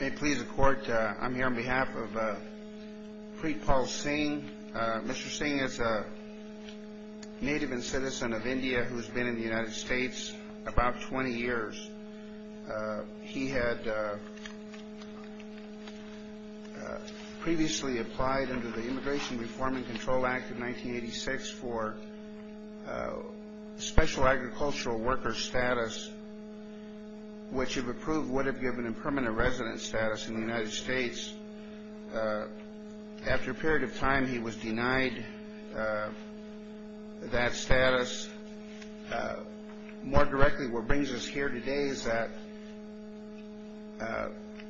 May it please the Court, I'm here on behalf of Preetpal Singh. Mr. Singh is a native and citizen of India who's been in the United States about 20 years. He had previously applied under the Immigration Reform and Control Act of 1986 for special agricultural worker status, which if approved would have given him permanent residence status in the United States. After a period of time, he was denied that status. More directly, what brings us here today is that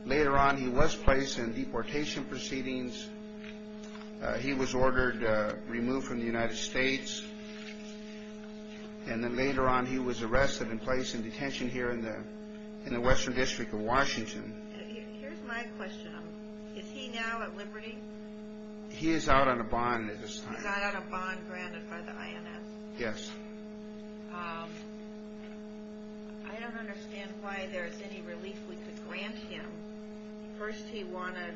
later on he was placed in deportation proceedings. He was ordered removed from the United States, and then later on he was arrested and placed in detention here in the Western District of Washington. Here's my question. Is he now at liberty? He is out on a bond at this time. He's out on a bond granted by the INS? Yes. I don't understand why there's any relief we could grant him. First he wanted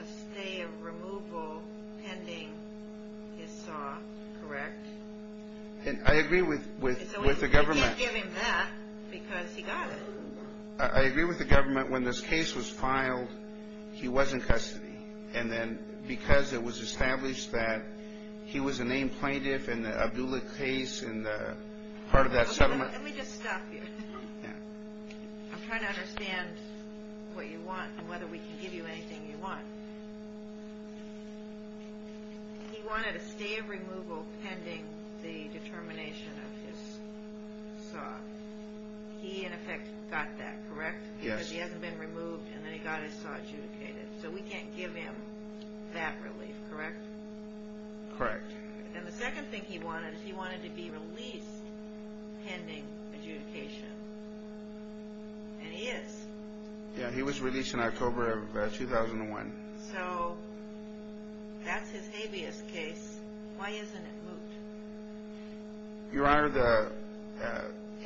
a stay of removal pending his saw, correct? I agree with the government. So we can't give him that because he got it. I agree with the government. When this case was filed, he was in custody. And then because it was established that he was a named plaintiff in the Abdullah case and part of that settlement. Let me just stop you. Yeah. I'm trying to understand what you want and whether we can give you anything you want. He wanted a stay of removal pending the determination of his saw. He, in effect, got that, correct? Yes. Because he hasn't been removed and then he got his saw adjudicated. So we can't give him that relief, correct? Correct. And the second thing he wanted is he wanted to be released pending adjudication. And he is. Yeah, he was released in October of 2001. Your Honor, the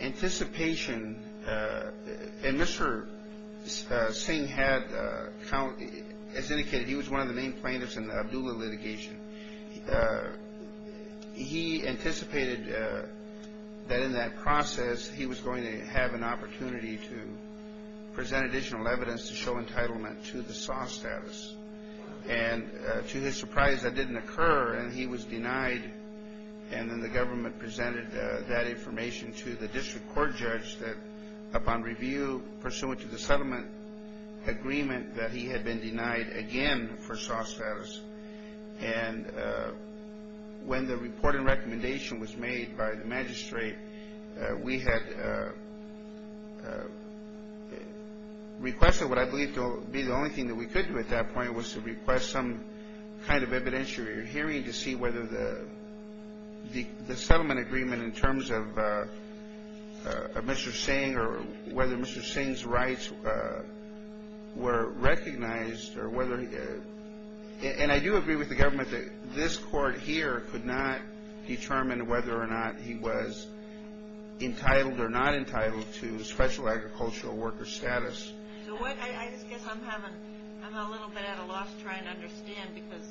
anticipation, and Mr. Singh had, as indicated, he was one of the named plaintiffs in the Abdullah litigation. He anticipated that in that process he was going to have an opportunity to present additional evidence to show entitlement to the saw status. And to his surprise, that didn't occur and he was denied. And then the government presented that information to the district court judge that upon review, pursuant to the settlement agreement, that he had been denied again for saw status. And when the report and recommendation was made by the magistrate, we had requested what I believe to be the only thing that we could do at that point was to request some kind of evidentiary hearing to see whether the settlement agreement in terms of Mr. Singh or whether Mr. Singh's rights were recognized. And I do agree with the government that this court here could not determine whether or not he was entitled or not entitled to special agricultural worker status. I just guess I'm a little bit at a loss trying to understand because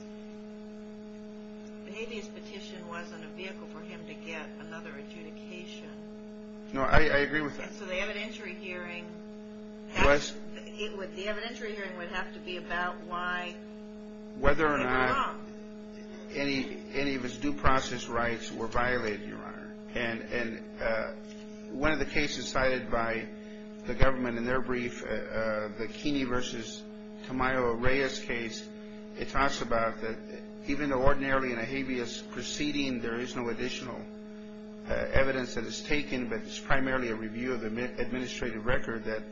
the habeas petition wasn't a vehicle for him to get another adjudication. No, I agree with that. So the evidentiary hearing would have to be about why he was wrong. Whether or not any of his due process rights were violated, Your Honor. And one of the cases cited by the government in their brief, the Keeney v. Tamayo-Reyes case, it talks about that even though ordinarily in a habeas proceeding there is no additional evidence that is taken, but it's primarily a review of the administrative record that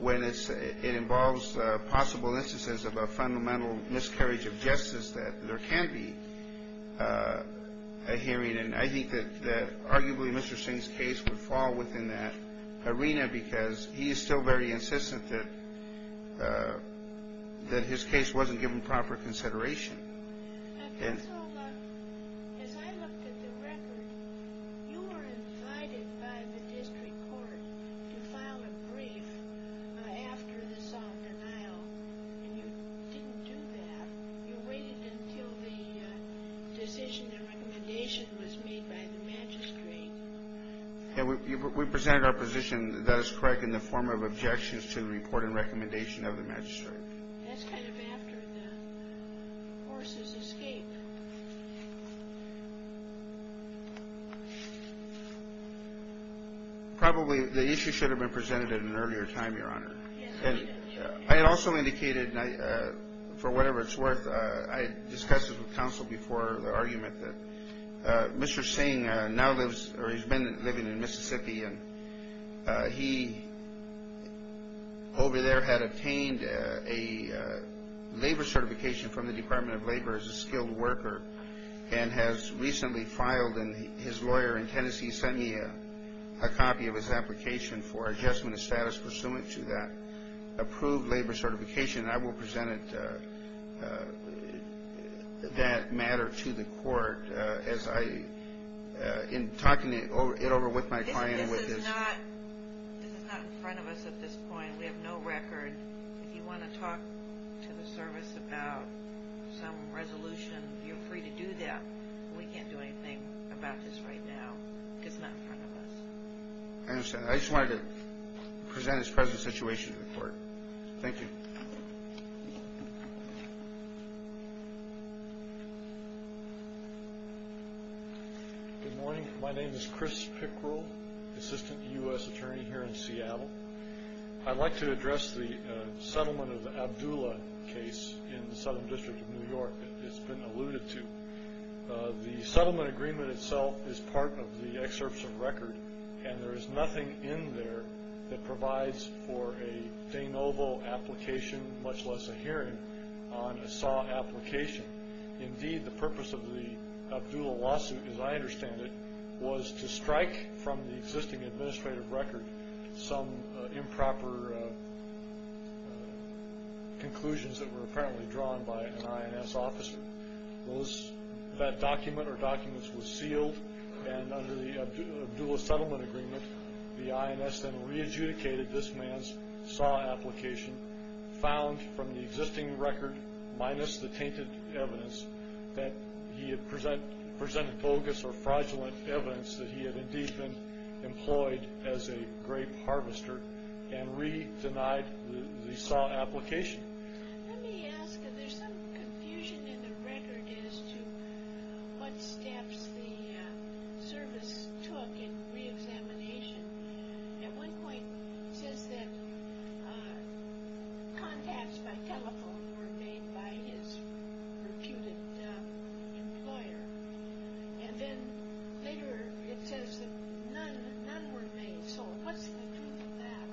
when it involves possible instances of a fundamental miscarriage of justice, that there can be a hearing. And I think that arguably Mr. Singh's case would fall within that arena because he is still very insistent that his case wasn't given proper consideration. Counsel, as I looked at the record, you were invited by the district court to file a brief after the solemn denial, and you didn't do that. You waited until the decision and recommendation was made by the magistrate. We presented our position, that is correct, in the form of objections to the report and recommendation of the magistrate. That's kind of after the horse's escape. Probably the issue should have been presented at an earlier time, Your Honor. I also indicated, for whatever it's worth, I discussed this with counsel before the argument that Mr. Singh now lives or he's been living in Mississippi, and he over there had obtained a labor certification from the Department of Labor as a skilled worker and has recently filed, and his lawyer in Tennessee sent me a copy of his application for adjustment of status pursuant to that approved labor certification. I will present that matter to the court in talking it over with my client. This is not in front of us at this point. We have no record. If you want to talk to the service about some resolution, you're free to do that. We can't do anything about this right now because it's not in front of us. I understand. I just wanted to present his present situation to the court. Thank you. Good morning. My name is Chris Pickrell, assistant U.S. attorney here in Seattle. I'd like to address the settlement of the Abdullah case in the Southern District of New York that has been alluded to. The settlement agreement itself is part of the excerpts of record, and there is nothing in there that provides for a de novo application, much less a hearing on a SAW application. Indeed, the purpose of the Abdullah lawsuit, as I understand it, was to strike from the existing administrative record some improper conclusions that were apparently drawn by an INS officer. That document or documents was sealed, and under the Abdullah settlement agreement the INS then re-adjudicated this man's SAW application, found from the existing record minus the tainted evidence that he had presented bogus or fraudulent evidence that he had indeed been employed as a grape harvester, and re-denied the SAW application. Let me ask, is there some confusion in the record as to what steps the service took in re-examination? At one point it says that contacts by telephone were made by his reputed employer, and then later it says that none were made. So what's the truth of that?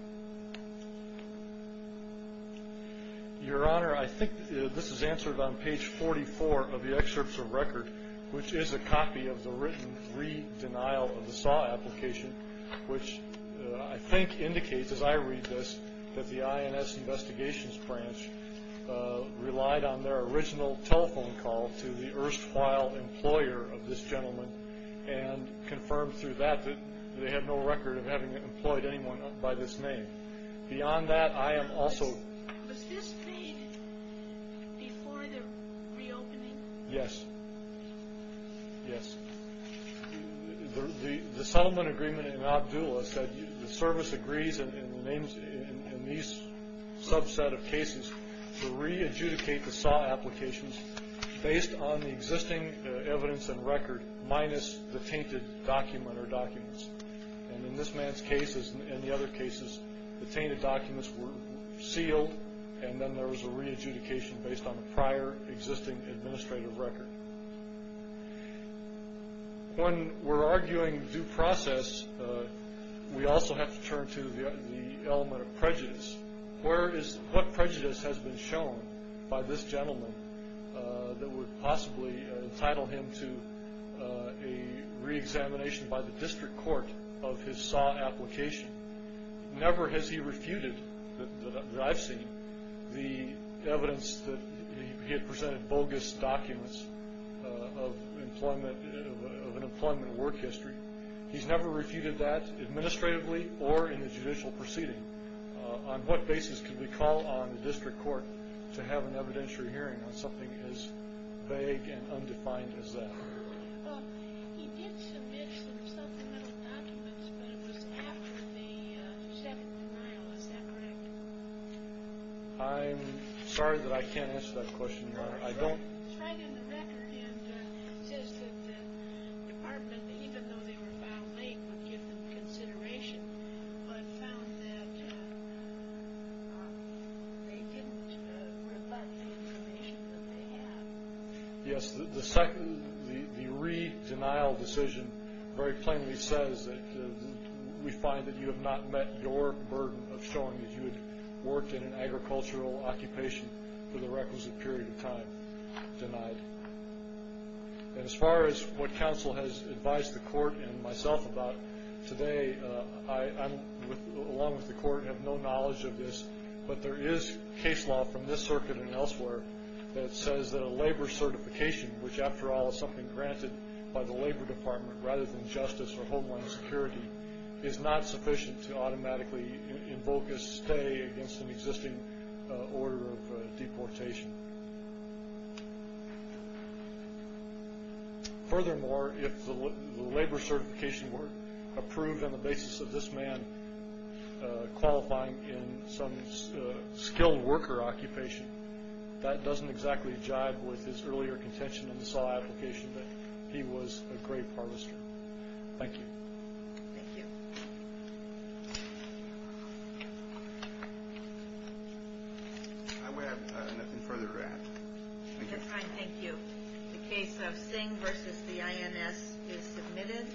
Your Honor, I think this is answered on page 44 of the excerpts of record, which is a copy of the written re-denial of the SAW application, which I think indicates, as I read this, that the INS investigations branch relied on their original telephone call to the erstwhile employer of this gentleman and confirmed through that that they had no record of having employed anyone by this name. Beyond that, I am also... Was this made before the reopening? Yes. Yes. The settlement agreement in Abdullah said the service agrees in these subset of cases to re-adjudicate the SAW applications based on the existing evidence and record minus the tainted document or documents. And in this man's case and the other cases, the tainted documents were sealed, and then there was a re-adjudication based on the prior existing administrative record. When we're arguing due process, we also have to turn to the element of prejudice. What prejudice has been shown by this gentleman that would possibly entitle him to a re-examination by the district court of his SAW application? Never has he refuted, that I've seen, the evidence that he had presented bogus documents of an employment work history. He's never refuted that administratively or in the judicial proceeding. On what basis could we call on the district court to have an evidentiary hearing on something as vague and undefined as that? He did submit some supplemental documents, but it was after the second denial. Is that correct? I'm sorry that I can't answer that question, Your Honor. I don't... It's right in the record, and it says that the department, even though they were found late, would give them consideration, but found that they didn't rebut the information that they had. Yes, the second, the re-denial decision very plainly says that we find that you have not met your burden of showing that you had worked in an agricultural occupation for the requisite period of time denied. As far as what counsel has advised the court and myself about today, I, along with the court, have no knowledge of this, but there is case law from this circuit and elsewhere that says that a labor certification, which after all is something granted by the labor department rather than justice or homeland security, is not sufficient to automatically invoke a stay against an existing order of deportation. Furthermore, if the labor certification were approved on the basis of this man qualifying in some skilled worker occupation, that doesn't exactly jive with his earlier contention in the SAW application that he was a grape harvester. Thank you. Thank you. I would have nothing further to add. That's fine. Thank you. The case of Singh v. the INS is submitted.